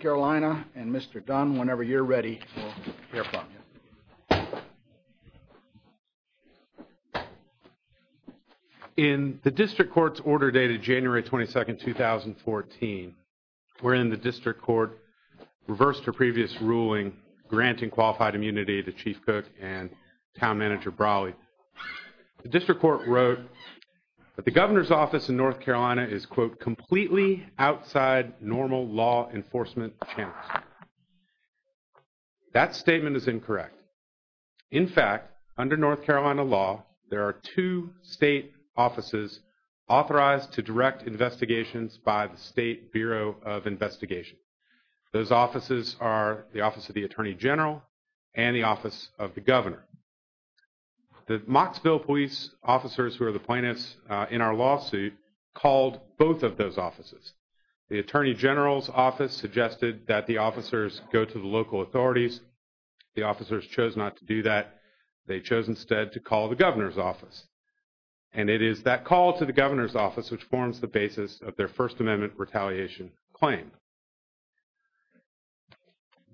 Carolina, and Mr. Dunn, whenever you're ready, we'll hear from you. In the District Court's order dated January 22, 2014, wherein the District Court reversed her previous ruling granting qualified immunity to Chief Cook and Town Manager Brawley, the law enforcement chancellor. That statement is incorrect. In fact, under North Carolina law, there are two state offices authorized to direct investigations by the State Bureau of Investigation. Those offices are the Office of the Attorney General and the Office of the Governor. The Mocksville police officers who are the plaintiffs in our lawsuit called both of those offices. The Attorney General's office suggested that the officers go to the local authorities. The officers chose not to do that. They chose instead to call the Governor's office. And it is that call to the Governor's office which forms the basis of their First Amendment retaliation claim.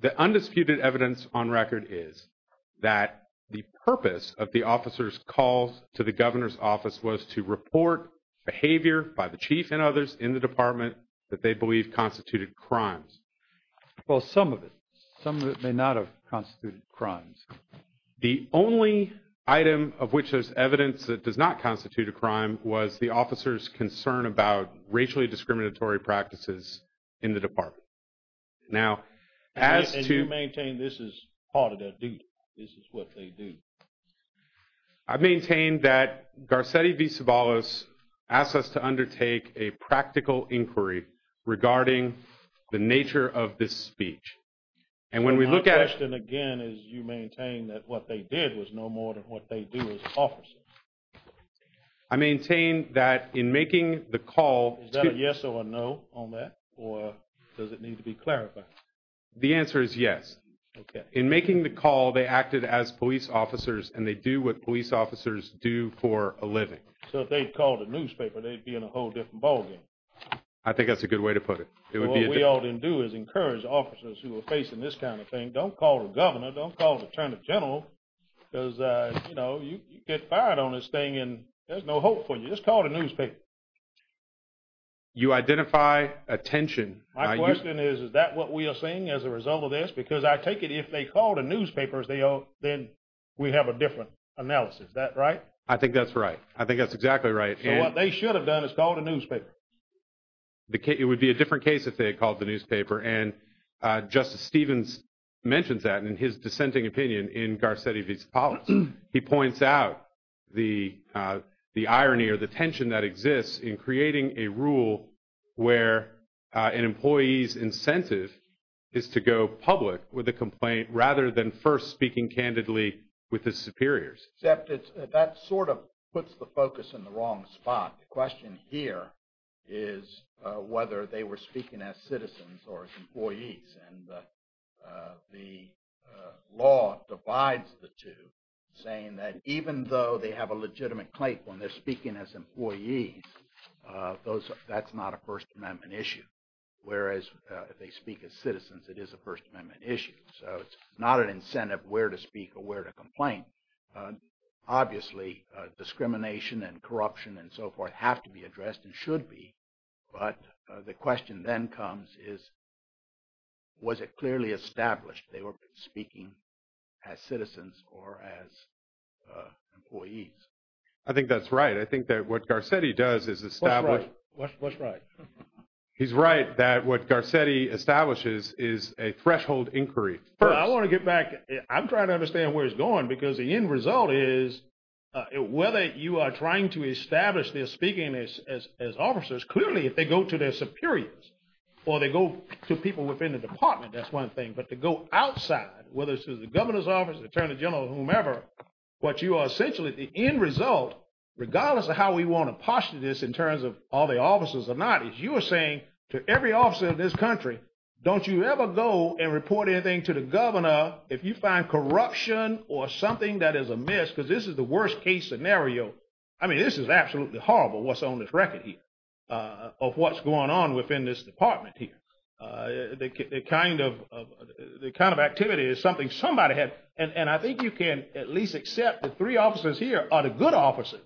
The undisputed evidence on record is that the purpose of the officers' calls to the Governor's office was to report behavior by the Chief and others in the department that they believe constituted crimes. Well, some of it. Some of it may not have constituted crimes. The only item of which there's evidence that does not constitute a crime was the officers' concern about racially discriminatory practices in the department. Now, as to... And you maintain this is part of their duty. This is what they do. I maintain that Garcetti v. Ceballos asked us to undertake a practical inquiry regarding the nature of this speech. And when we look at it... So my question again is you maintain that what they did was no more than what they do as officers. I maintain that in making the call... Is that a yes or a no on that? Or does it need to be clarified? The answer is yes. In making the call, they acted as police officers, and they do what police officers do for a living. So if they'd called a newspaper, they'd be in a whole different ballgame. I think that's a good way to put it. What we ought to do is encourage officers who are facing this kind of thing, don't call the Governor, don't call the Attorney General, because, you know, you get fired on this thing and there's no hope for you. Just call the newspaper. You identify a tension... My question is, is that what we are seeing as a result of this? Because I take it if they called a newspaper, then we have a different analysis. Is that right? I think that's right. I think that's exactly right. So what they should have done is called a newspaper. It would be a different case if they had called the newspaper. And Justice Stevens mentions that in his dissenting opinion in Garcetti v. Ceballos. He points out the irony or the fairness in creating a rule where an employee's incentive is to go public with a complaint rather than first speaking candidly with his superiors. Except that sort of puts the focus in the wrong spot. The question here is whether they were speaking as citizens or as employees. And the law divides the two, saying that even though they have a legitimate claim when they're speaking as employees, that's not a First Amendment issue. Whereas if they speak as citizens, it is a First Amendment issue. So it's not an incentive where to speak or where to complain. Obviously, discrimination and corruption and so forth have to be addressed and should be. But the question then comes is, was it clearly established they were speaking as citizens or as employees? I think that's right. I think that what Garcetti does is establish... What's right? He's right that what Garcetti establishes is a threshold inquiry. I want to get back. I'm trying to understand where it's going because the end result is whether you are trying to establish they're speaking as officers, clearly if they go to their superiors or they go to people within the department, that's one thing. But to go outside, whether it's to the governor's office, the attorney general, whomever, what you are essentially the end result, regardless of how we want to posture this in terms of all the officers or not, is you are saying to every officer in this country, don't you ever go and report anything to the governor if you find corruption or something that is amiss. Because this is the worst case scenario. I mean, this is absolutely horrible what's on this record here of what's going on within this department here. The kind of activity is something somebody had... And I think you can at least accept the three officers here are the good officers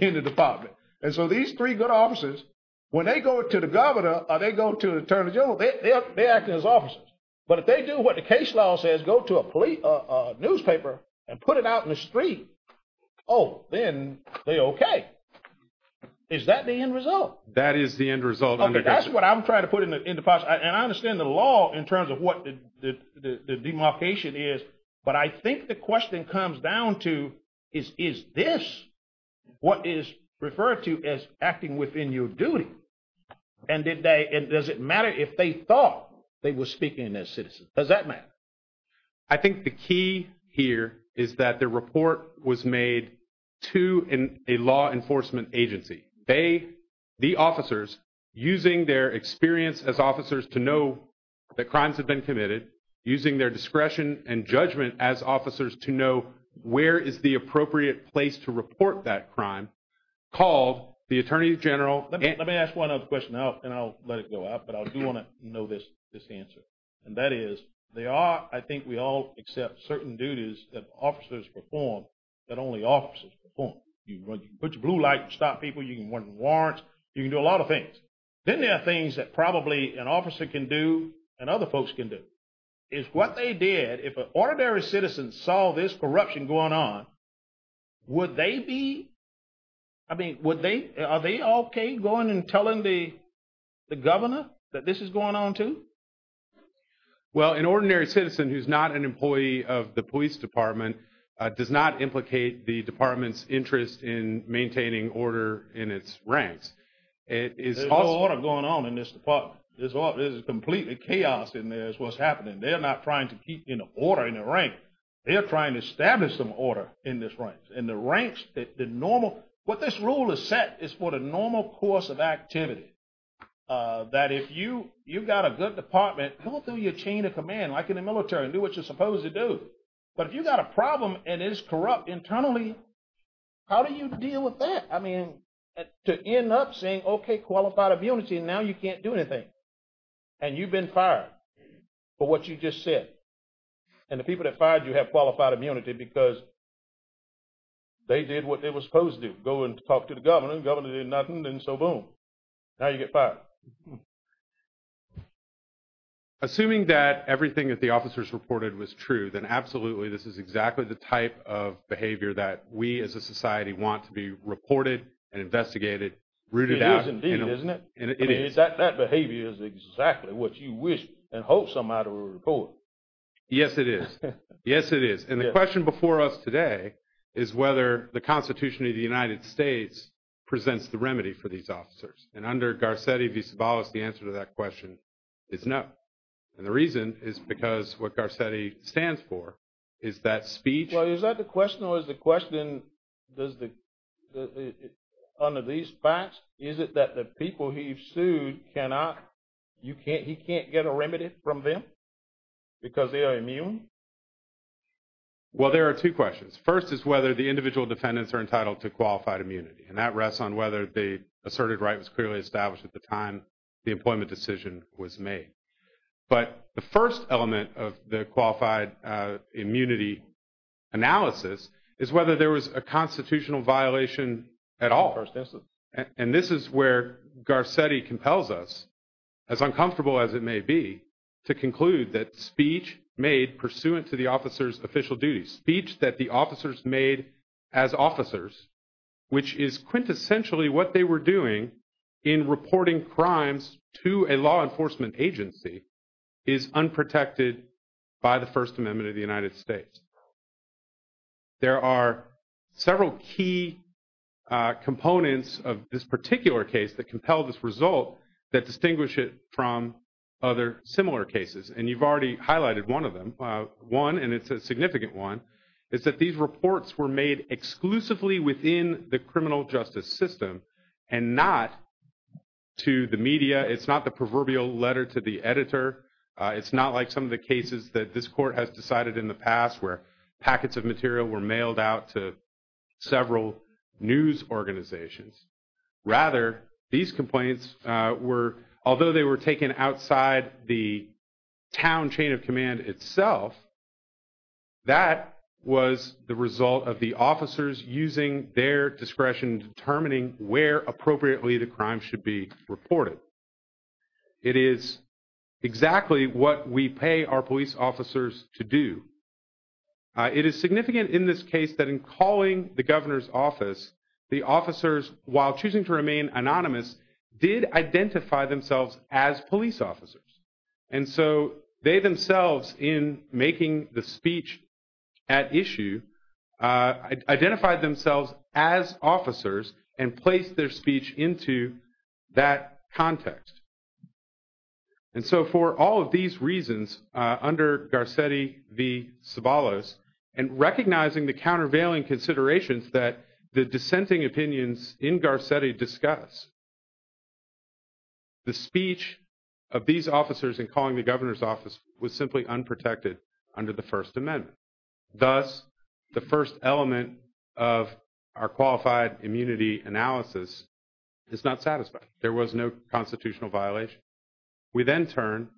in the department. And so these three good officers, when they go to the governor or they go to the attorney general, they're acting as officers. But if they do what the case law says, go to a newspaper and put it out on the street, oh, then they're okay. Is that the end result? That is the end result. Okay, that's what I'm trying to put in the process. And I understand the law in terms of what the demarcation is. But I think the question comes down to, is this what is referred to as acting within your duty? And does it matter if they thought they were speaking as citizens? Does that matter? I think the key here is that the report was made to a law enforcement agency. They, the officers, using their experience as officers to know that crimes have been committed, using their discretion and judgment as officers to know where is the appropriate place to report that crime, called the attorney general... Let me ask one other question, and I'll let it go out, but I do want to know this answer. And that is, there are, I think we all accept, certain duties that officers perform that only officers perform. You can put your blue light and stop people, you can run warrants, you can do a lot of things. Then there are things that probably an officer can do and other folks can do. If what they did, if an ordinary citizen saw this corruption going on, would they be, I mean, would they, are they okay going and telling the governor that this is going on too? Well, an ordinary citizen who's not an employee of the police department does not implicate the department's interest in maintaining order in its ranks. There's no order going on in this department. There's completely chaos in there is what's happening. They're not trying to keep order in the ranks. They're trying to establish some order in this ranks. In the ranks, the normal, what this rule has set is for the normal course of activity, that if you've got a good department, go through your chain of command like in the military and do what you're supposed to do. But if you've got a problem and it's corrupt internally, how do you deal with that? I mean, to end up saying, okay, qualified immunity, now you can't do anything. And you've been fired for what you just said. And the people that fired you have qualified immunity because they did what they were supposed to do, go and talk to the governor. The governor did nothing and so boom, now you get fired. Assuming that everything that the officers reported was true, then absolutely this is exactly the type of behavior that we as a society want to be reported and investigated, rooted out. It is indeed, isn't it? I mean, that behavior is exactly what you wish and hope somebody will report. Yes, it is. Yes, it is. And the question before us today is whether the Constitution of the United States presents the remedy for these officers. And under Garcetti v. Sobolos, the answer to that question is no. And the reason is because what Garcetti stands for is that speech- Well, is that the question or is the question, under these facts, is it that the people he because they are immune? Well, there are two questions. First is whether the individual defendants are entitled to qualified immunity. And that rests on whether the asserted right was clearly established at the time the employment decision was made. But the first element of the qualified immunity analysis is whether there was a constitutional violation at all. First instance. And this is where Garcetti compels us, as uncomfortable as it may be, to conclude that speech made pursuant to the officer's official duties, speech that the officers made as officers, which is quintessentially what they were doing in reporting crimes to a law enforcement agency, is unprotected by the First Amendment of the United States. There are several key components of this particular case that compel this result that distinguish it from other similar cases. And you've already highlighted one of them. One, and it's a significant one, is that these reports were made exclusively within the criminal justice system and not to the media. It's not the proverbial letter to the editor. It's not like some of the cases that this court has decided in the past where packets of material were mailed out to several news organizations. Rather, these complaints were, although they were taken outside the town chain of command itself, that was the result of the officers using their discretion determining where appropriately the crime should be reported. It is exactly what we pay our police officers to do. It is significant in this case that in calling the governor's office, the officers, while choosing to remain anonymous, did identify themselves as police officers. And so they themselves, in making the speech at Garcetti v. Ceballos, and recognizing the countervailing considerations that the dissenting opinions in Garcetti discuss, the speech of these officers in calling the governor's office was simply unprotected under the First Amendment. Thus, the first element of our qualified immunity analysis is not satisfied. There was no constitutional violation. We then turn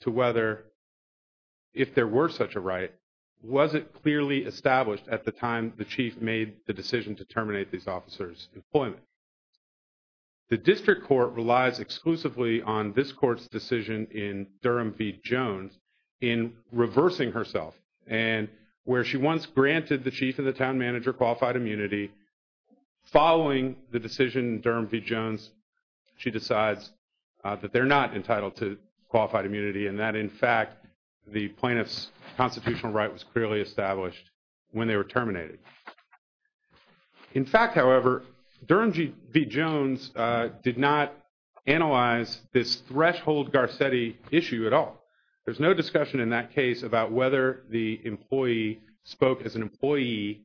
to whether, if there were such a right, was it clearly established at the time the chief made the decision to terminate these officers' employment? The district court relies exclusively on this court's decision in Durham v. Jones in reversing herself. And where she once granted the chief and the town manager qualified immunity, following the decision in Durham v. Jones, she decides that they're not entitled to qualified immunity and that, in fact, the plaintiff's constitutional right was clearly established when they were terminated. In fact, however, Durham v. Jones did not analyze this threshold Garcetti issue at all. There's no question that the employee spoke as an employee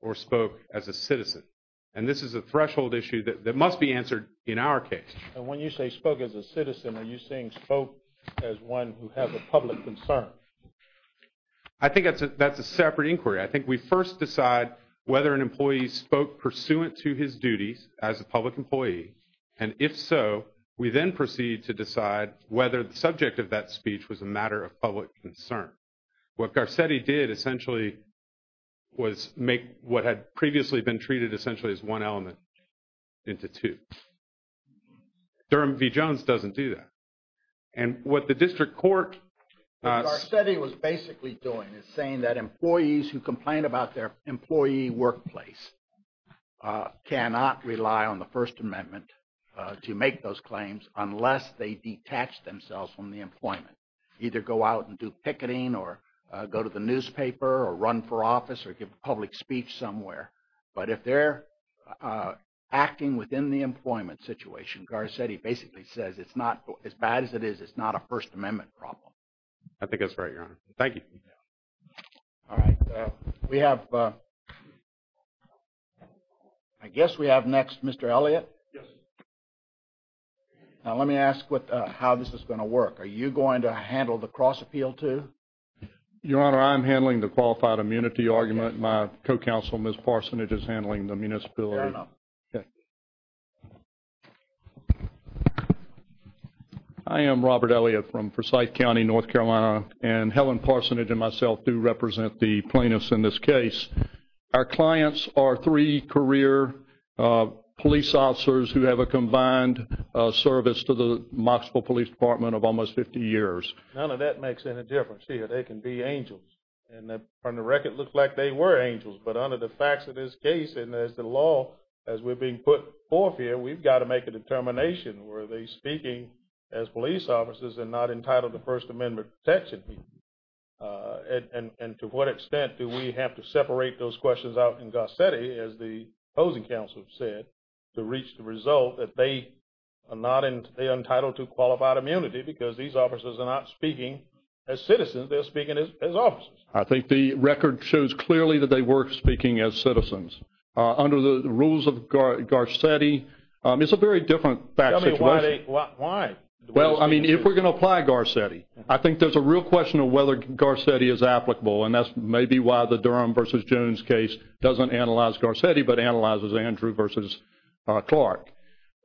or spoke as a citizen. And this is a threshold issue that must be answered in our case. And when you say spoke as a citizen, are you saying spoke as one who has a public concern? I think that's a separate inquiry. I think we first decide whether an employee spoke pursuant to his duties as a public employee. And if so, we then proceed to decide whether the subject of that speech was a matter of public concern. What Garcetti did essentially was make what had previously been treated essentially as one element into two. Durham v. Jones doesn't do that. And what the district court... What Garcetti was basically doing is saying that employees who complain about their employee workplace cannot rely on the claims unless they detach themselves from the employment. Either go out and do picketing or go to the newspaper or run for office or give a public speech somewhere. But if they're acting within the employment situation, Garcetti basically says it's not... As bad as it is, it's not a First Amendment problem. I think that's right, Your Honor. Thank you. All right. We have... I guess we have next Mr. Elliott. Yes. Now let me ask how this is going to work. Are you going to handle the cross-appeal too? Your Honor, I'm handling the qualified immunity argument. My co-counsel Ms. Parsonage is handling the municipality... Fair enough. Okay. I am Robert Elliott from Forsyth County, North Carolina. And Helen Parsonage and myself do represent the plaintiffs in this case. Our clients are three career police officers who have a combined service to the Knoxville Police Department of almost 50 years. None of that makes any difference to you. They can be angels. And from the record, it looks like they were angels. But under the facts of this case and as the law, as we're being put forth here, we've got to make a determination. Were they speaking as police officers and not entitled to qualified immunity? I think the record shows clearly that they were speaking as citizens. Under the rules of Garcetti, it's a very different fact situation. Tell me why they... Why? Well, I mean, if we're going to apply Garcetti, I think there's a real question of whether Garcetti is applicable. And that's maybe why the Nunes case doesn't analyze Garcetti but analyzes Andrew versus Clark.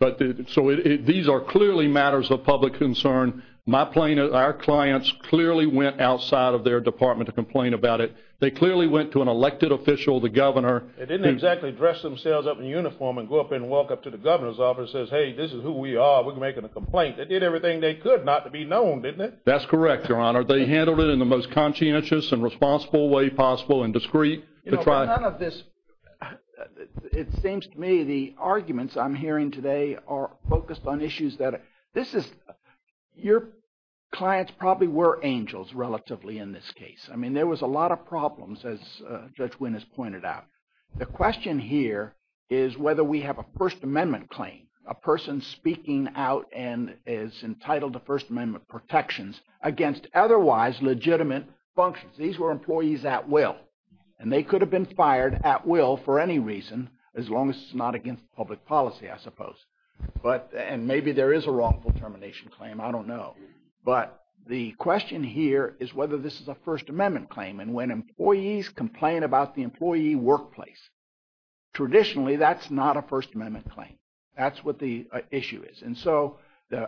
So these are clearly matters of public concern. My plaintiff... Our clients clearly went outside of their department to complain about it. They clearly went to an elected official, the governor... They didn't exactly dress themselves up in uniform and go up and walk up to the governor's office and say, hey, this is who we are. We're making a complaint. They did everything they could not to be You know, none of this... It seems to me the arguments I'm hearing today are focused on issues that... This is... Your clients probably were angels relatively in this case. I mean, there was a lot of problems as Judge Wynn has pointed out. The question here is whether we have a First Amendment claim, a person speaking out and is entitled to First Amendment protections against otherwise legitimate functions. These were employees at will. And they could have been fired at will for any reason as long as it's not against public policy, I suppose. But... And maybe there is a wrongful termination claim. I don't know. But the question here is whether this is a First Amendment claim. And when employees complain about the employee workplace, traditionally that's not a issue is. And so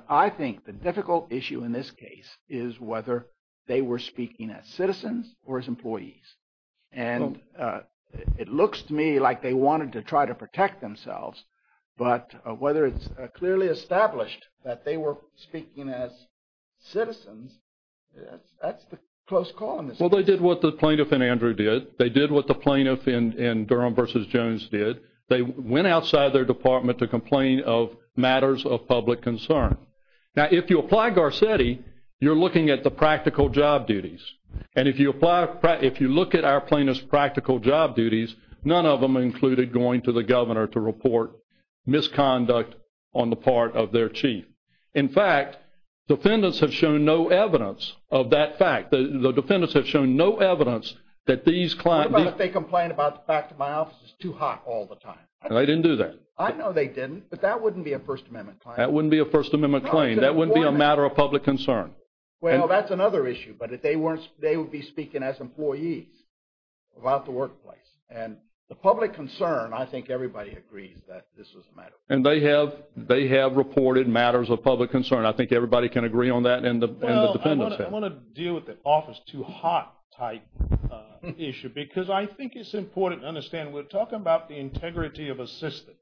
I think the difficult issue in this case is whether they were speaking as citizens or as employees. And it looks to me like they wanted to try to protect themselves. But whether it's clearly established that they were speaking as citizens, that's the close call in this case. Well, they did what the plaintiff in Andrew did. They did what the plaintiff in Durham v. Jones did. They went outside their department to complain of matters of public concern. Now, if you apply Garcetti, you're looking at the practical job duties. And if you apply... If you look at our plaintiff's practical job duties, none of them included going to the governor to report misconduct on the part of their chief. In fact, defendants have shown no evidence of that fact. The defendants have shown no evidence that these clients... What about if they didn't? I know they didn't, but that wouldn't be a First Amendment claim. That wouldn't be a First Amendment claim. That wouldn't be a matter of public concern. Well, that's another issue. But if they weren't, they would be speaking as employees about the workplace. And the public concern, I think everybody agrees that this was a matter of public concern. And they have reported matters of public concern. I think everybody can agree on that and the defendants have. Well, I want to deal with the office too hot type issue because I think it's important to understand we're talking about the integrity of a system.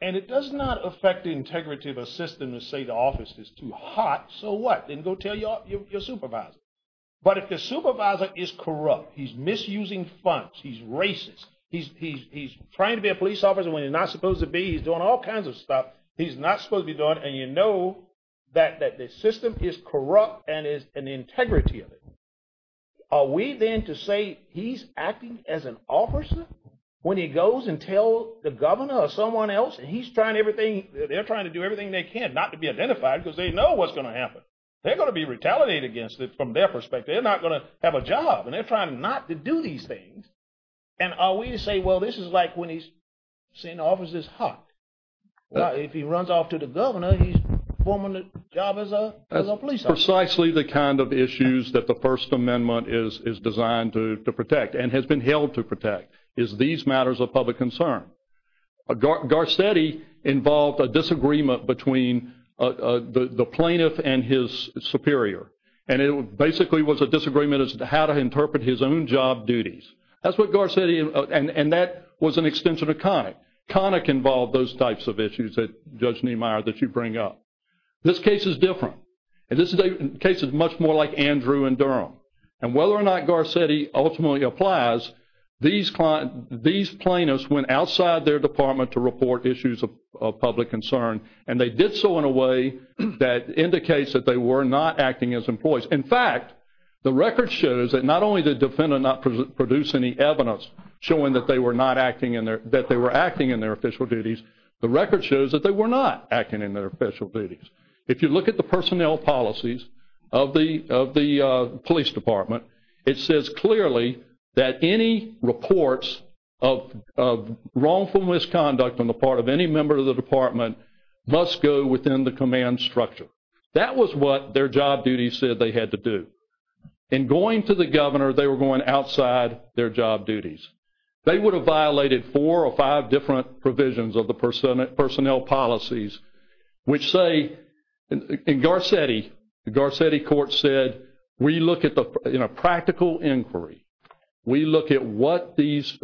And it does not affect the integrity of a system to say the office is too hot, so what? Then go tell your supervisor. But if the supervisor is corrupt, he's misusing funds, he's racist, he's trying to be a police officer when he's not supposed to be, he's doing all kinds of stuff he's not supposed to be doing, and you know that the system is corrupt and is an integrity of it, are we then to say he's acting as an officer when he goes and tells the governor or someone else and he's trying everything, they're trying to do everything they can not to be identified because they know what's going to happen. They're going to be retaliated against from their perspective. They're not going to have a job. And they're trying not to do these things. And are we to say well, this is like when he's saying the office is hot. If he runs off to the governor, he's forming a job as a police officer. These are precisely the kind of issues that the First Amendment is designed to protect and has been held to protect is these matters of public concern. Garcetti involved a disagreement between the plaintiff and his superior. And it basically was a disagreement as to how to interpret his own job duties. That's what Garcetti and that was an extension of Connick. Connick involved those types of issues that Judge Niemeyer that you bring up. This case is different. This case is much more like Andrew and Durham. And whether or not Garcetti ultimately applies, these plaintiffs went outside their department to report issues of public concern and they did so in a way that indicates that they were not acting as employees. In fact, the record shows that not only did the defendant not produce any evidence showing that they were acting in their official duties, the record shows that they were not acting in their official duties. If you look at the personnel policies of the police department, it says clearly that any reports of wrongful misconduct on the part of any member of the police department indicates that they were going outside their job duties. They would have violated four or five different provisions of the personnel policies which say, in Garcetti, the Garcetti court said, in a practical inquiry, we look at what this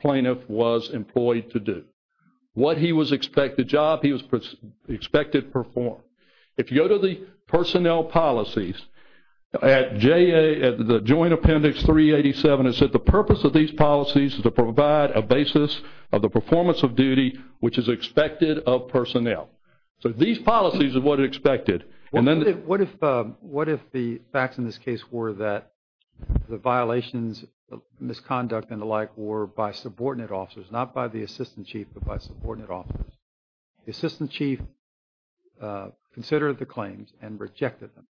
plaintiff was employed to do. What he was expected job, he was expected to perform. If you go to the personnel policies, at the Joint Appendix 387, it said the purpose of these policies is to provide a basis of the performance of duty which is expected of personnel. So these policies are what are expected. What if the facts in this case were that the violations of misconduct and the like were by subordinate officers, not by the assistant chief, but by subordinate officers? The assistant chief considered the claims and rejected them.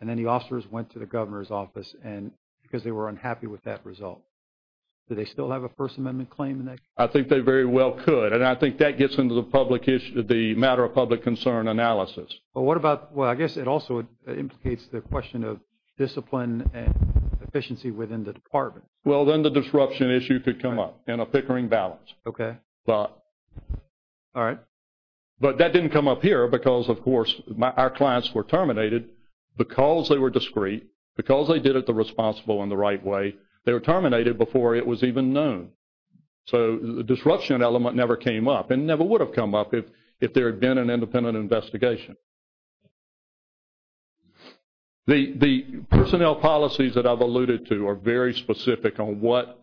And then the officers went to the governor's office because they were unhappy with that result. Do they still have a First Amendment claim in that case? I think they very well could. And I think that gets into the public issue, the matter of public concern analysis. Well, what about, well, I guess it also implicates the question of discipline and efficiency within the department. Well, then the disruption issue could come up in a pickering balance. Okay. All right. But that didn't come up here because, of course, our clients were terminated because they were discreet, because they did it the responsible and the right way. They were terminated before it was even known. So the disruption element never came up and never would have come up if there had been an independent investigation. The personnel policies that I've alluded to are very specific on what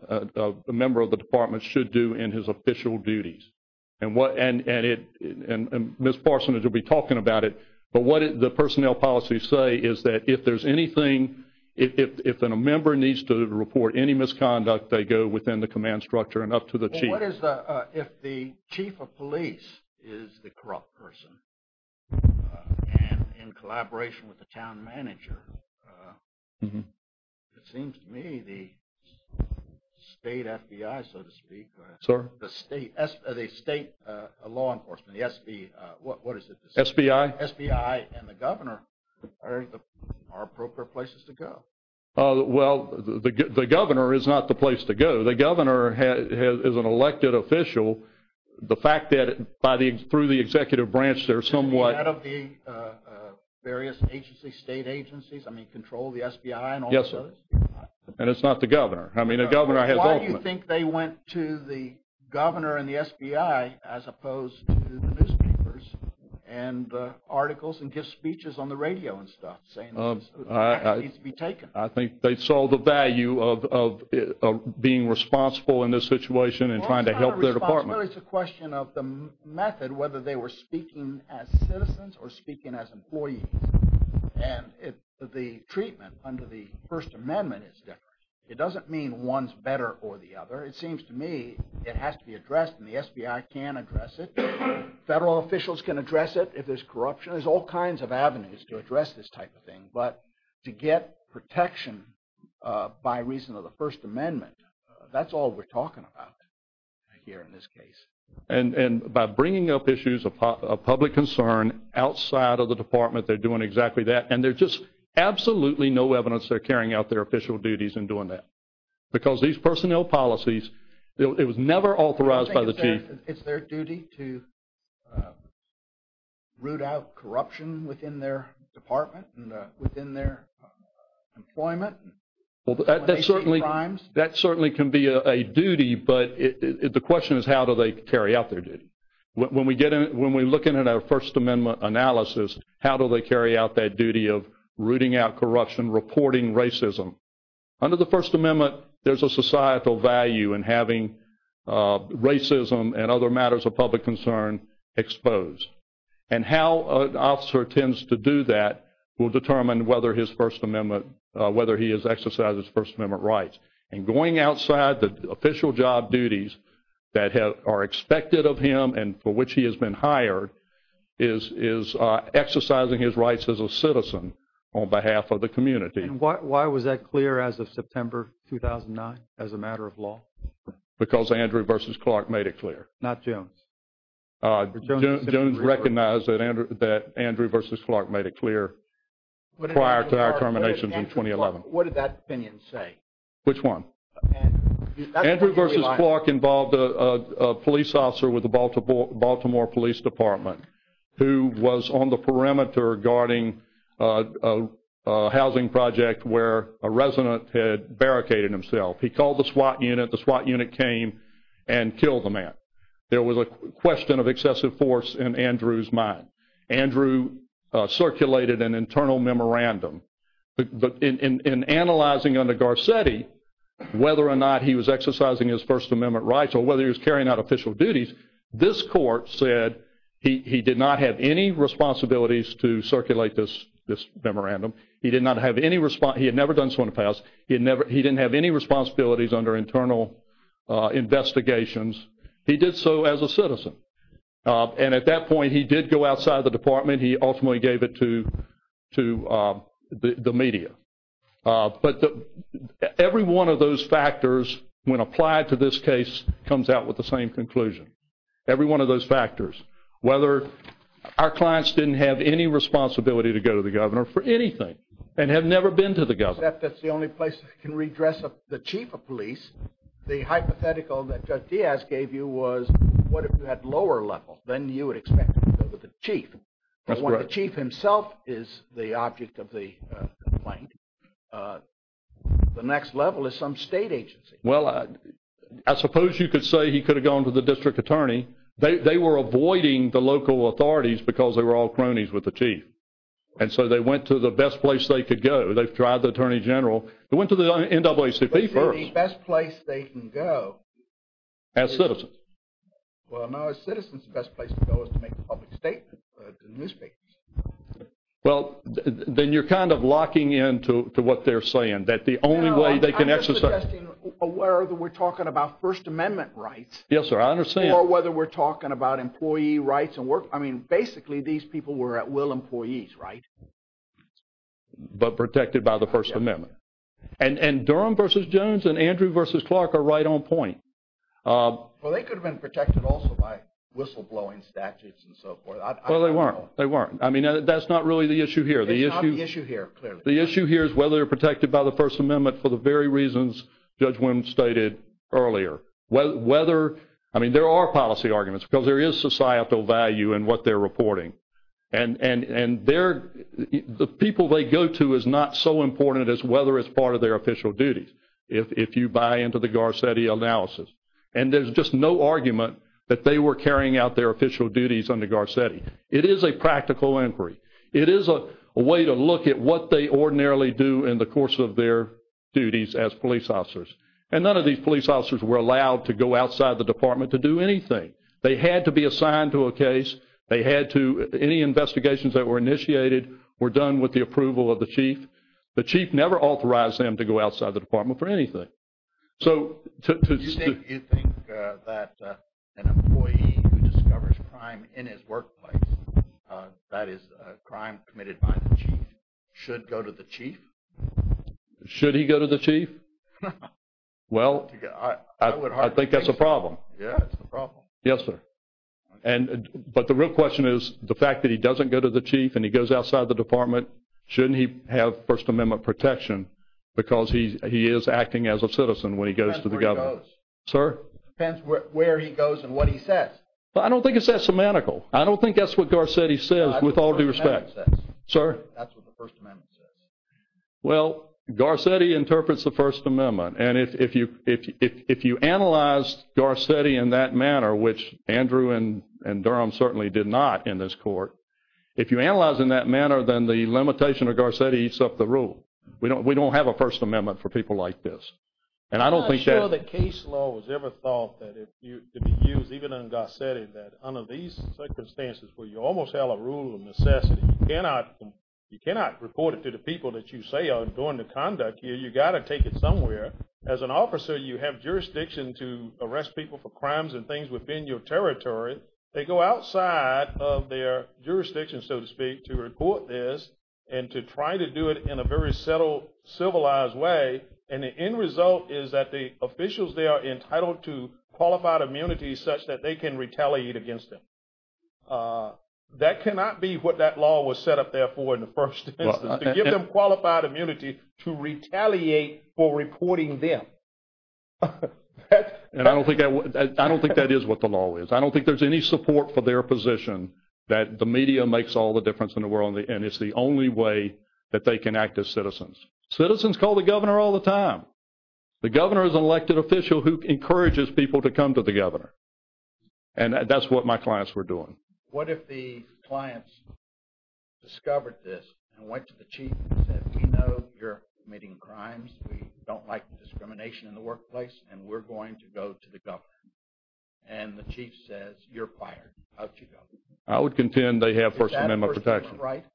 a member of the department should do in his official duties. And Ms. Parsons will be talking about it. But what the personnel policies say is that if there's anything, if a member needs to report any misconduct, they go within the command structure and up to the chief. What is the, if the chief of police is the corrupt person and in collaboration with the town manager, it seems to me the state FBI, so to speak, or the state law enforcement, what is it? SBI. SBI and the governor are appropriate places to go. Well, the governor is not the place to go. The governor is an elected official. The fact that by the, through the executive branch, they're somewhat. Out of the various agencies, state agencies, I mean, control the SBI and all the others? Yes, sir. And it's not the governor. I mean, a governor has ultimate. Why do you think they went to the governor and the SBI as opposed to the newspapers and articles and give speeches on the radio and stuff saying this needs to be taken? I think they saw the value of being responsible in this situation and trying to help their department. Well, it's not a responsibility. It's a question of the method, whether they were speaking as citizens or speaking as employees. And the treatment under the First Amendment is different. It doesn't mean one's better or the other. It seems to me it has to be addressed and the SBI can address it. Federal officials can address it if there's corruption. There's all kinds of avenues to address this type of thing. But to get protection by reason of the First Amendment, that's all we're talking about here in this case. And by bringing up issues of public concern outside of the department, they're doing exactly that. And there's just absolutely no evidence they're carrying out their official duties in doing that. Because these personnel policies, it was never authorized by the chief. It's their duty to root out corruption within their department and within their employment? That certainly can be a duty, but the question is how do they carry out their duty? When we look in at our First Amendment analysis, how do they carry out that duty of rooting out corruption, reporting racism? Under the First Amendment, there's a societal value in having racism and other matters of public concern exposed. And how an officer tends to do that will determine whether he has exercised his First Amendment rights. And going outside the official job duties that are expected of him and for which he has been hired, is exercising his rights as a citizen on behalf of the community. And why was that clear as of September 2009 as a matter of law? Because Andrew v. Clark made it clear. Not Jones? Jones recognized that Andrew v. Clark made it clear prior to our terminations in 2011. What did that opinion say? Which one? Andrew v. Clark involved a police officer with the Baltimore Police Department who was on the perimeter guarding a housing project where a resident had barricaded himself. He called the SWAT unit. The SWAT unit came and killed the man. There was a question of excessive force in Andrew's mind. Andrew circulated an internal memorandum. But in analyzing under Garcetti whether or not he was exercising his First Amendment rights or whether he was carrying out official duties, this court said he did not have any responsibilities to circulate this memorandum. He had never done so in the past. He didn't have any responsibilities under internal investigations. He did so as a citizen. And at that point, he did go outside the department. He ultimately gave it to the media. But every one of those factors, when applied to this case, comes out with the same conclusion. Every one of those factors. Whether our clients didn't have any responsibility to go to the governor for anything and have never been to the governor. That's the only place that can redress the chief of police. The hypothetical that Judge Diaz gave you was what if you had lower level? Then you would expect to go to the chief. The chief himself is the object of the complaint. The next level is some state agency. Well, I suppose you could say he could have gone to the district attorney. They were avoiding the local authorities because they were all cronies with the chief. And so they went to the best place they could go. They tried the attorney general. They went to the NAACP first. The best place they can go. As citizens. Well, now as citizens the best place to go is to make a public statement to the newspapers. Well, then you're kind of locking in to what they're saying. That the only way they can exercise. I'm just suggesting whether we're talking about First Amendment rights. Yes, sir. I understand. Or whether we're talking about employee rights. I mean, basically these people were at will employees, right? But protected by the First Amendment. And Durham v. Jones and Andrew v. Clark are right on point. Well, they could have been protected also by whistleblowing statutes and so forth. Well, they weren't. I mean, that's not really the issue here. It's not the issue here, clearly. The issue here is whether they're protected by the First Amendment for the very reasons Judge Wim stated earlier. I mean, there are policy arguments because there is societal value in what they're reporting. And the people they go to is not so important as whether it's part of their official duties. If you buy into the Garcetti analysis. And there's just no argument that they were carrying out their official duties under Garcetti. It is a practical inquiry. It is a way to look at what they ordinarily do in the course of their duties as police officers. And none of these police officers were allowed to go outside the department to do anything. They had to be assigned to a case. They had to, any investigations that were initiated were done with the approval of the chief. The chief never authorized them to go outside the department for anything. You think that an employee who discovers crime in his workplace, that is a crime committed by the chief, should go to the chief? Should he go to the chief? Well, I think that's a problem. Yeah, it's a problem. Yes, sir. But the real question is the fact that he doesn't go to the chief and he goes outside the department, shouldn't he have First Amendment protection because he is acting as a citizen when he goes to the government? It depends where he goes. Sir? It depends where he goes and what he says. I don't think it's that semantical. I don't think that's what Garcetti says with all due respect. That's what the First Amendment says. Sir? That's what the First Amendment says. Well, Garcetti interprets the First Amendment. And if you analyze Garcetti in that manner, which Andrew and Durham certainly did not in this court, if you analyze in that manner, then the limitation of Garcetti eats up the rule. We don't have a First Amendment for people like this. And I don't think that… I'm not sure the case law was ever thought to be used, even in Garcetti, that under these circumstances where you almost have a rule of necessity, you cannot report it to the people that you say are doing the conduct. You've got to take it somewhere. As an officer, you have jurisdiction to arrest people for crimes and things within your territory. They go outside of their jurisdiction, so to speak, to report this and to try to do it in a very civilized way. And the end result is that the officials there are entitled to qualified immunity such that they can retaliate against them. That cannot be what that law was set up there for in the first instance, to give them qualified immunity to retaliate for reporting them. And I don't think that is what the law is. I don't think there's any support for their position that the media makes all the difference in the world and it's the only way that they can act as citizens. Citizens call the governor all the time. The governor is an elected official who encourages people to come to the governor. And that's what my clients were doing. What if the clients discovered this and went to the chief and said, we know you're committing crimes, we don't like discrimination in the workplace, and we're going to go to the governor? And the chief says, you're fired, out you go. I would contend they have First Amendment protection. Is that First Amendment right?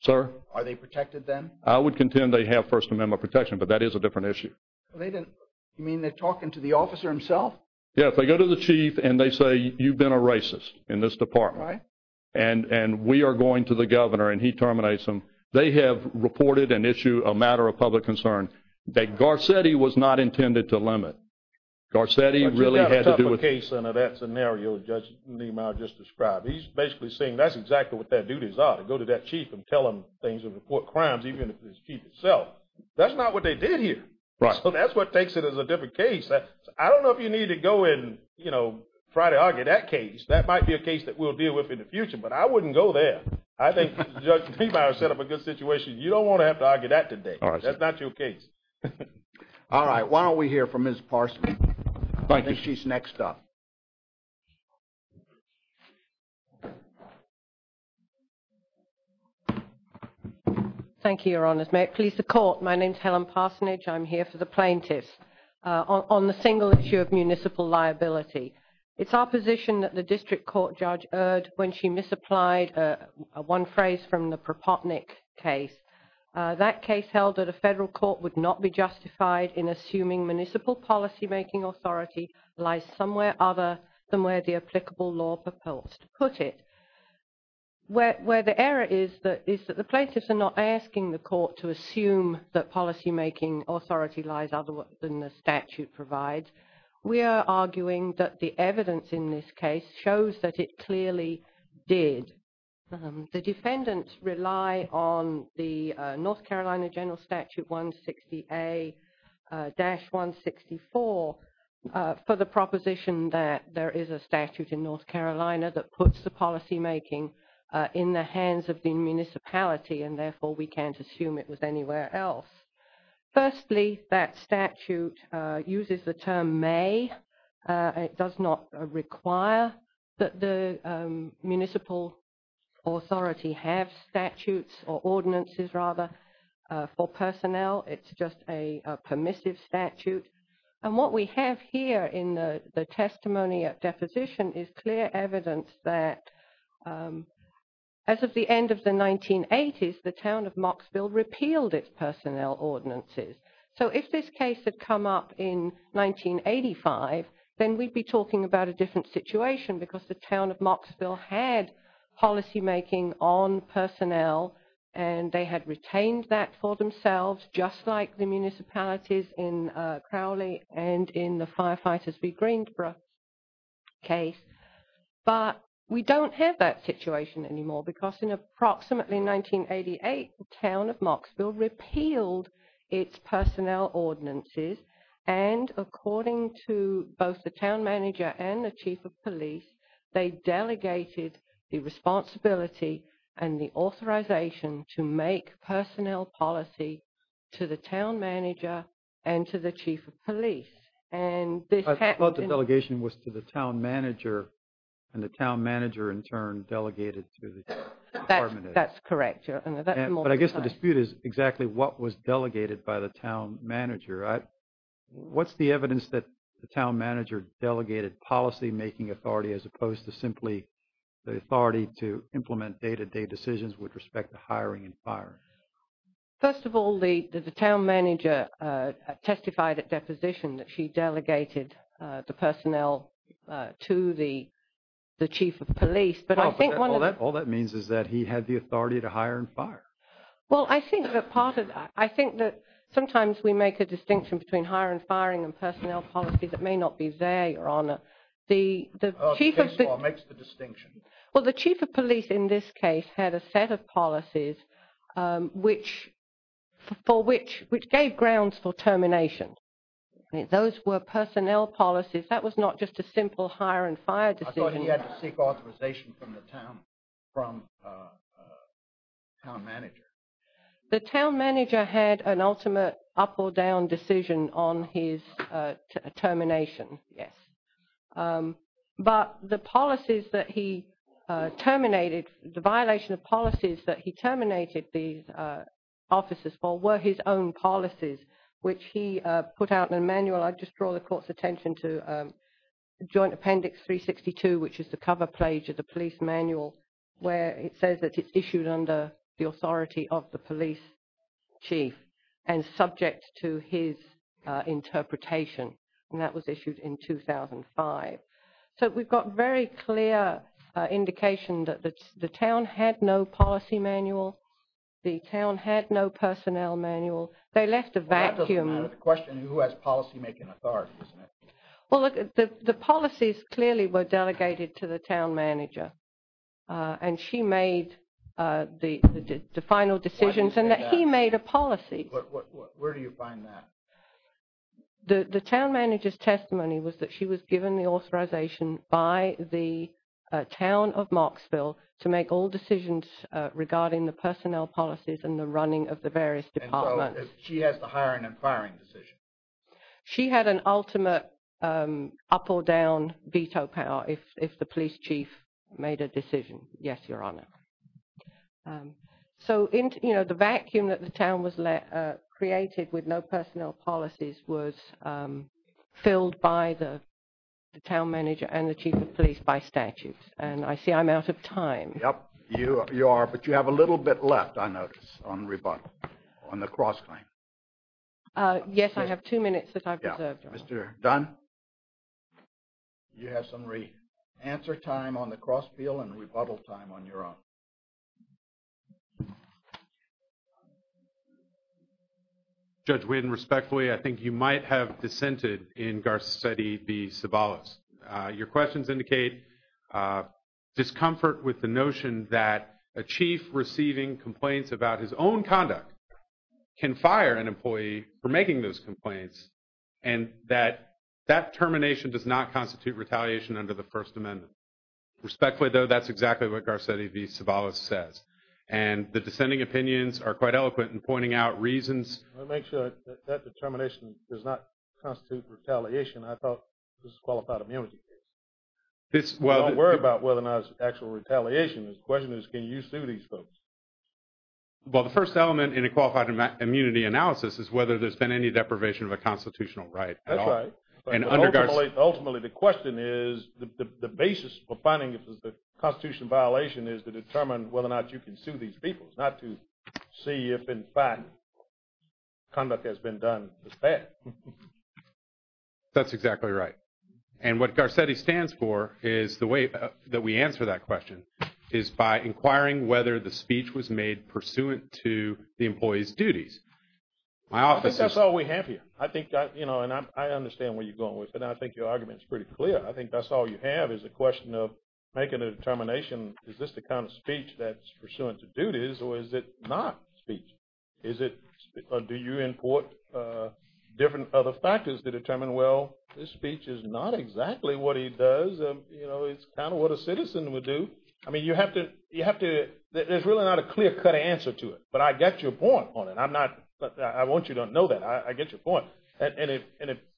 Sir? Are they protected then? I would contend they have First Amendment protection, but that is a different issue. You mean they're talking to the officer himself? Yes, they go to the chief and they say, you've been a racist in this department. Right. And we are going to the governor and he terminates them. They have reported an issue, a matter of public concern, that Garcetti was not intended to limit. Garcetti really had to do with – But you've got a tougher case under that scenario Judge Niemeyer just described. He's basically saying that's exactly what their duties are, to go to that chief and tell him things and report crimes, even if it's the chief himself. That's not what they did here. Right. So that's what takes it as a different case. I don't know if you need to go and, you know, try to argue that case. That might be a case that we'll deal with in the future, but I wouldn't go there. I think Judge Niemeyer set up a good situation. You don't want to have to argue that today. All right, sir. That's not your case. All right. Why don't we hear from Ms. Parsonage. Thank you. I think she's next up. Thank you, Your Honors. May it please the Court, my name is Helen Parsonage. I'm here for the plaintiffs on the single issue of municipal liability. It's opposition that the district court judge erred when she misapplied one phrase from the Propotnick case. That case held that a federal court would not be justified in assuming municipal policymaking authority lies somewhere other than where the applicable law propels to put it. Where the error is that the plaintiffs are not asking the court to assume that policymaking authority lies other than the statute provides. We are arguing that the evidence in this case shows that it clearly did. The defendants rely on the North Carolina General Statute 160A-164 for the proposition that there is a statute in North Carolina that puts the policymaking in the hands of the municipality and therefore we can't assume it was anywhere else. Firstly, that statute uses the term may. It does not require that the municipal authority have statutes or ordinances rather for personnel. It's just a permissive statute. And what we have here in the testimony at deposition is clear evidence that as of the end of the 1980s the town of Mocksville repealed its personnel ordinances. So if this case had come up in 1985, then we'd be talking about a different situation because the town of Mocksville had policymaking on personnel and they had retained that for themselves just like the municipalities in Crowley and in the Firefighters v. Greensboro case. But we don't have that situation anymore because in approximately 1988, the town of Mocksville repealed its personnel ordinances and according to both the town manager and the chief of police, they delegated the responsibility and the authorization to make personnel policy to the town manager and to the chief of police. I thought the delegation was to the town manager and the town manager in turn delegated to the department. That's correct. But I guess the dispute is exactly what was delegated by the town manager. What's the evidence that the town manager delegated policymaking authority as opposed to simply the authority to implement day-to-day decisions with respect to hiring and firing? First of all, the town manager testified at deposition that she delegated the personnel to the chief of police. All that means is that he had the authority to hire and fire. Well, I think that sometimes we make a distinction between hire and firing and personnel policy that may not be there, Your Honor. The chief of police in this case had a set of policies for which, which gave grounds for termination. Those were personnel policies. That was not just a simple hire and fire decision. I thought he had to seek authorization from the town manager. The town manager had an ultimate up or down decision on his termination, yes. But the policies that he terminated, the violation of policies that he terminated the officers for were his own policies, which he put out in a manual. I just draw the court's attention to Joint Appendix 362, which is the cover page of the police manual where it says that it's issued under the authority of the police chief and subject to his interpretation. And that was issued in 2005. So we've got very clear indication that the town had no policy manual. The town had no personnel manual. They left a vacuum. Well, that doesn't matter. The question is who has policymaking authority, isn't it? Well, the policies clearly were delegated to the town manager. And she made the final decisions and that he made a policy. Where do you find that? The town manager's testimony was that she was given the authorization by the town of Marksville to make all decisions regarding the personnel policies and the running of the various departments. She has the hiring and firing decision. She had an ultimate up or down veto power if the police chief made a decision. Yes, Your Honor. So, you know, the vacuum that the town was created with no personnel policies was filled by the town manager and the chief of police by statute. And I see I'm out of time. Yep, you are, but you have a little bit left, I notice, on rebuttal, on the cross-claim. Yes, I have two minutes that I've reserved. Mr. Dunn, you have some re-answer time on the cross-appeal and rebuttal time on your own. Judge Wynne, respectfully, I think you might have dissented in Garcetti v. Ceballos. Your questions indicate discomfort with the notion that a chief receiving complaints about his own conduct can fire an employee for making those complaints and that that termination does not constitute retaliation under the First Amendment. Respectfully, though, that's exactly what Garcetti v. Ceballos says. And the dissenting opinions are quite eloquent in pointing out reasons. Let me make sure that that determination does not constitute retaliation. I thought this was a qualified immunity case. Don't worry about whether or not it's actual retaliation. The question is can you sue these folks? Well, the first element in a qualified immunity analysis is whether there's been any deprivation of a constitutional right at all. That's right. Ultimately, the question is the basis for finding if it's a constitutional violation is to determine whether or not you can sue these people, not to see if, in fact, conduct has been done as bad. That's exactly right. And what Garcetti stands for is the way that we answer that question is by inquiring whether the speech was made pursuant to the employee's duties. I think that's all we have here. I think that, you know, and I understand where you're going with it, and I think your argument is pretty clear. I think that's all you have is a question of making a determination. Is this the kind of speech that's pursuant to duties or is it not speech? Or do you import different other factors to determine, well, this speech is not exactly what he does. You know, it's kind of what a citizen would do. I mean, you have to – there's really not a clear-cut answer to it, but I get your point on it. I'm not – I want you to know that. I get your point. And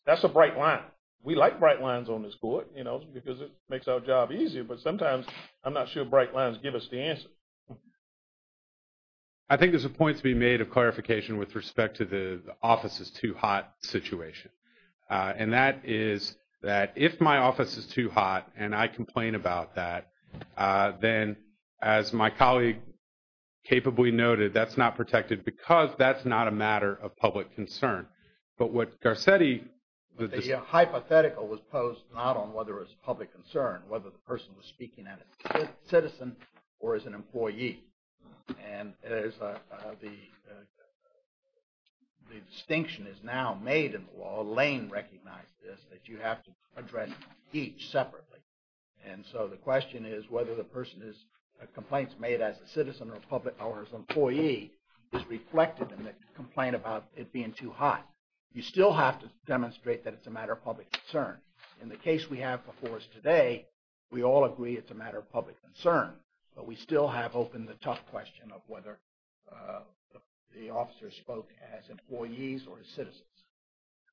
that's a bright line. We like bright lines on this court, you know, because it makes our job easier, but sometimes I'm not sure bright lines give us the answer. I think there's a point to be made of clarification with respect to the office is too hot situation. And that is that if my office is too hot and I complain about that, then, as my colleague capably noted, that's not protected because that's not a matter of public concern. But what Garcetti – The hypothetical was posed not on whether it's a public concern, whether the person was speaking as a citizen or as an employee. And the distinction is now made in the law. Lane recognized this, that you have to address each separately. And so the question is whether the person's complaint is made as a citizen or as an employee is reflected in the complaint about it being too hot. You still have to demonstrate that it's a matter of public concern. In the case we have before us today, we all agree it's a matter of public concern. But we still have open the tough question of whether the officer spoke as employees or as citizens.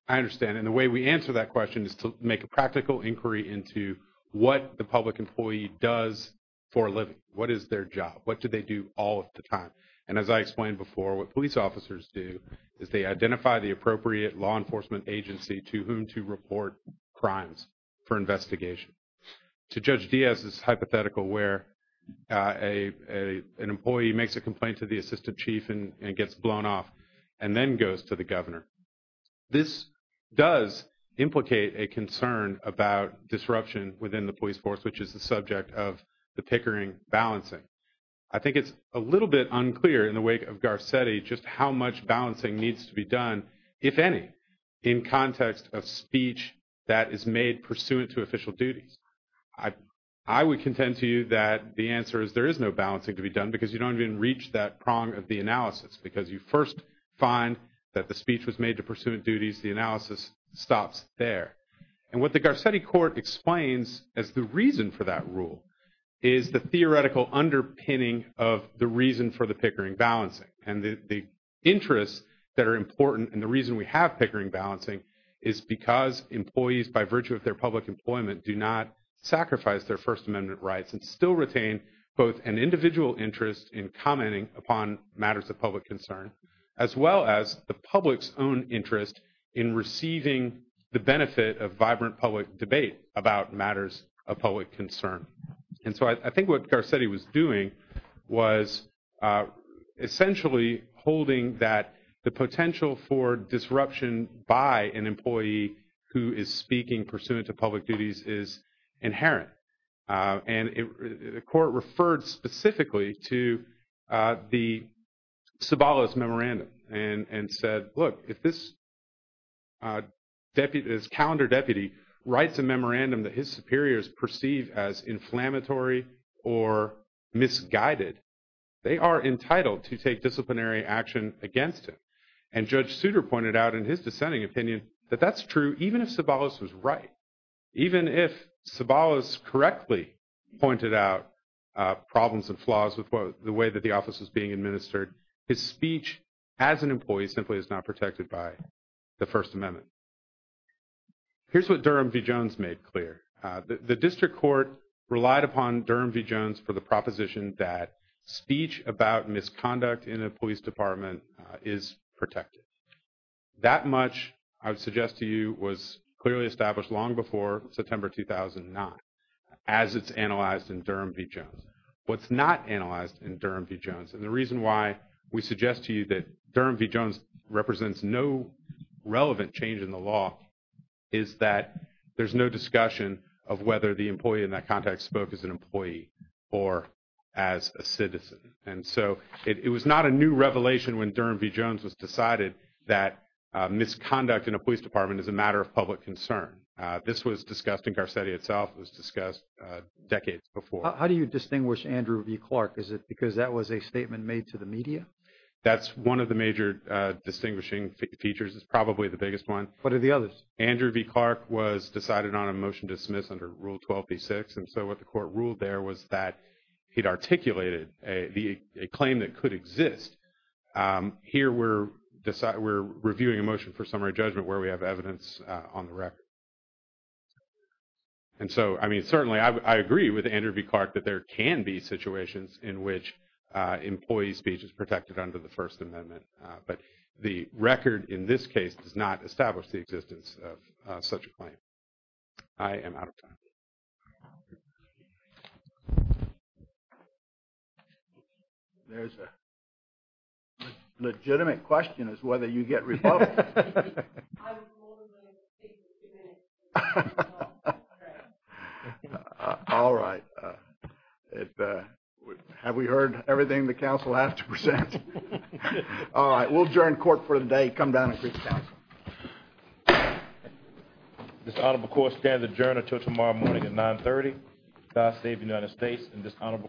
I understand. And the way we answer that question is to make a practical inquiry into what the public employee does for a living. What is their job? What do they do all of the time? And as I explained before, what police officers do is they identify the appropriate law enforcement agency to whom to report crimes for investigation. To Judge Diaz's hypothetical where an employee makes a complaint to the assistant chief and gets blown off and then goes to the governor. This does implicate a concern about disruption within the police force, which is the subject of the Pickering balancing. I think it's a little bit unclear in the wake of Garcetti just how much balancing needs to be done, if any, in context of speech that is made pursuant to official duties. I would contend to you that the answer is there is no balancing to be done because you don't even reach that prong of the analysis. Because you first find that the speech was made to pursuant duties. The analysis stops there. And what the Garcetti court explains as the reason for that rule is the theoretical underpinning of the reason for the Pickering balancing. And the interests that are important and the reason we have Pickering balancing is because employees, by virtue of their public employment, do not sacrifice their First Amendment rights. And still retain both an individual interest in commenting upon matters of public concern, as well as the public's own interest in receiving the benefit of vibrant public debate about matters of public concern. And so I think what Garcetti was doing was essentially holding that the potential for disruption by an employee who is speaking pursuant to public duties is inherent. And the court referred specifically to the Sabalas memorandum and said, look, if this calendar deputy writes a memorandum that his superiors perceive as inflammatory or misguided, they are entitled to take disciplinary action against him. And Judge Souter pointed out in his dissenting opinion that that's true even if Sabalas was right. Even if Sabalas correctly pointed out problems and flaws with the way that the office was being administered, his speech as an employee simply is not protected by the First Amendment. Here's what Durham v. Jones made clear. The district court relied upon Durham v. Jones for the proposition that speech about misconduct in a police department is protected. That much, I would suggest to you, was clearly established long before September 2009, as it's analyzed in Durham v. Jones. What's not analyzed in Durham v. Jones, and the reason why we suggest to you that Durham v. Jones represents no relevant change in the law, is that there's no discussion of whether the employee in that context spoke as an employee or as a citizen. And so it was not a new revelation when Durham v. Jones was decided that misconduct in a police department is a matter of public concern. This was discussed in Garcetti itself. It was discussed decades before. How do you distinguish Andrew v. Clark? Is it because that was a statement made to the media? That's one of the major distinguishing features. It's probably the biggest one. What are the others? Andrew v. Clark was decided on a motion to dismiss under Rule 12b-6. And so what the court ruled there was that he'd articulated a claim that could exist. Here we're reviewing a motion for summary judgment where we have evidence on the record. And so, I mean, certainly I agree with Andrew v. Clark that there can be situations in which employee speech is protected under the First Amendment. But the record in this case does not establish the existence of such a claim. I am out of time. There's a legitimate question as to whether you get rebuttal. I was told it would take two minutes. All right. Have we heard everything the counsel has to present? All right. We'll adjourn court for the day. Come down and greet the counsel. This honorable court stands adjourned until tomorrow morning at 930. God save the United States and this honorable court.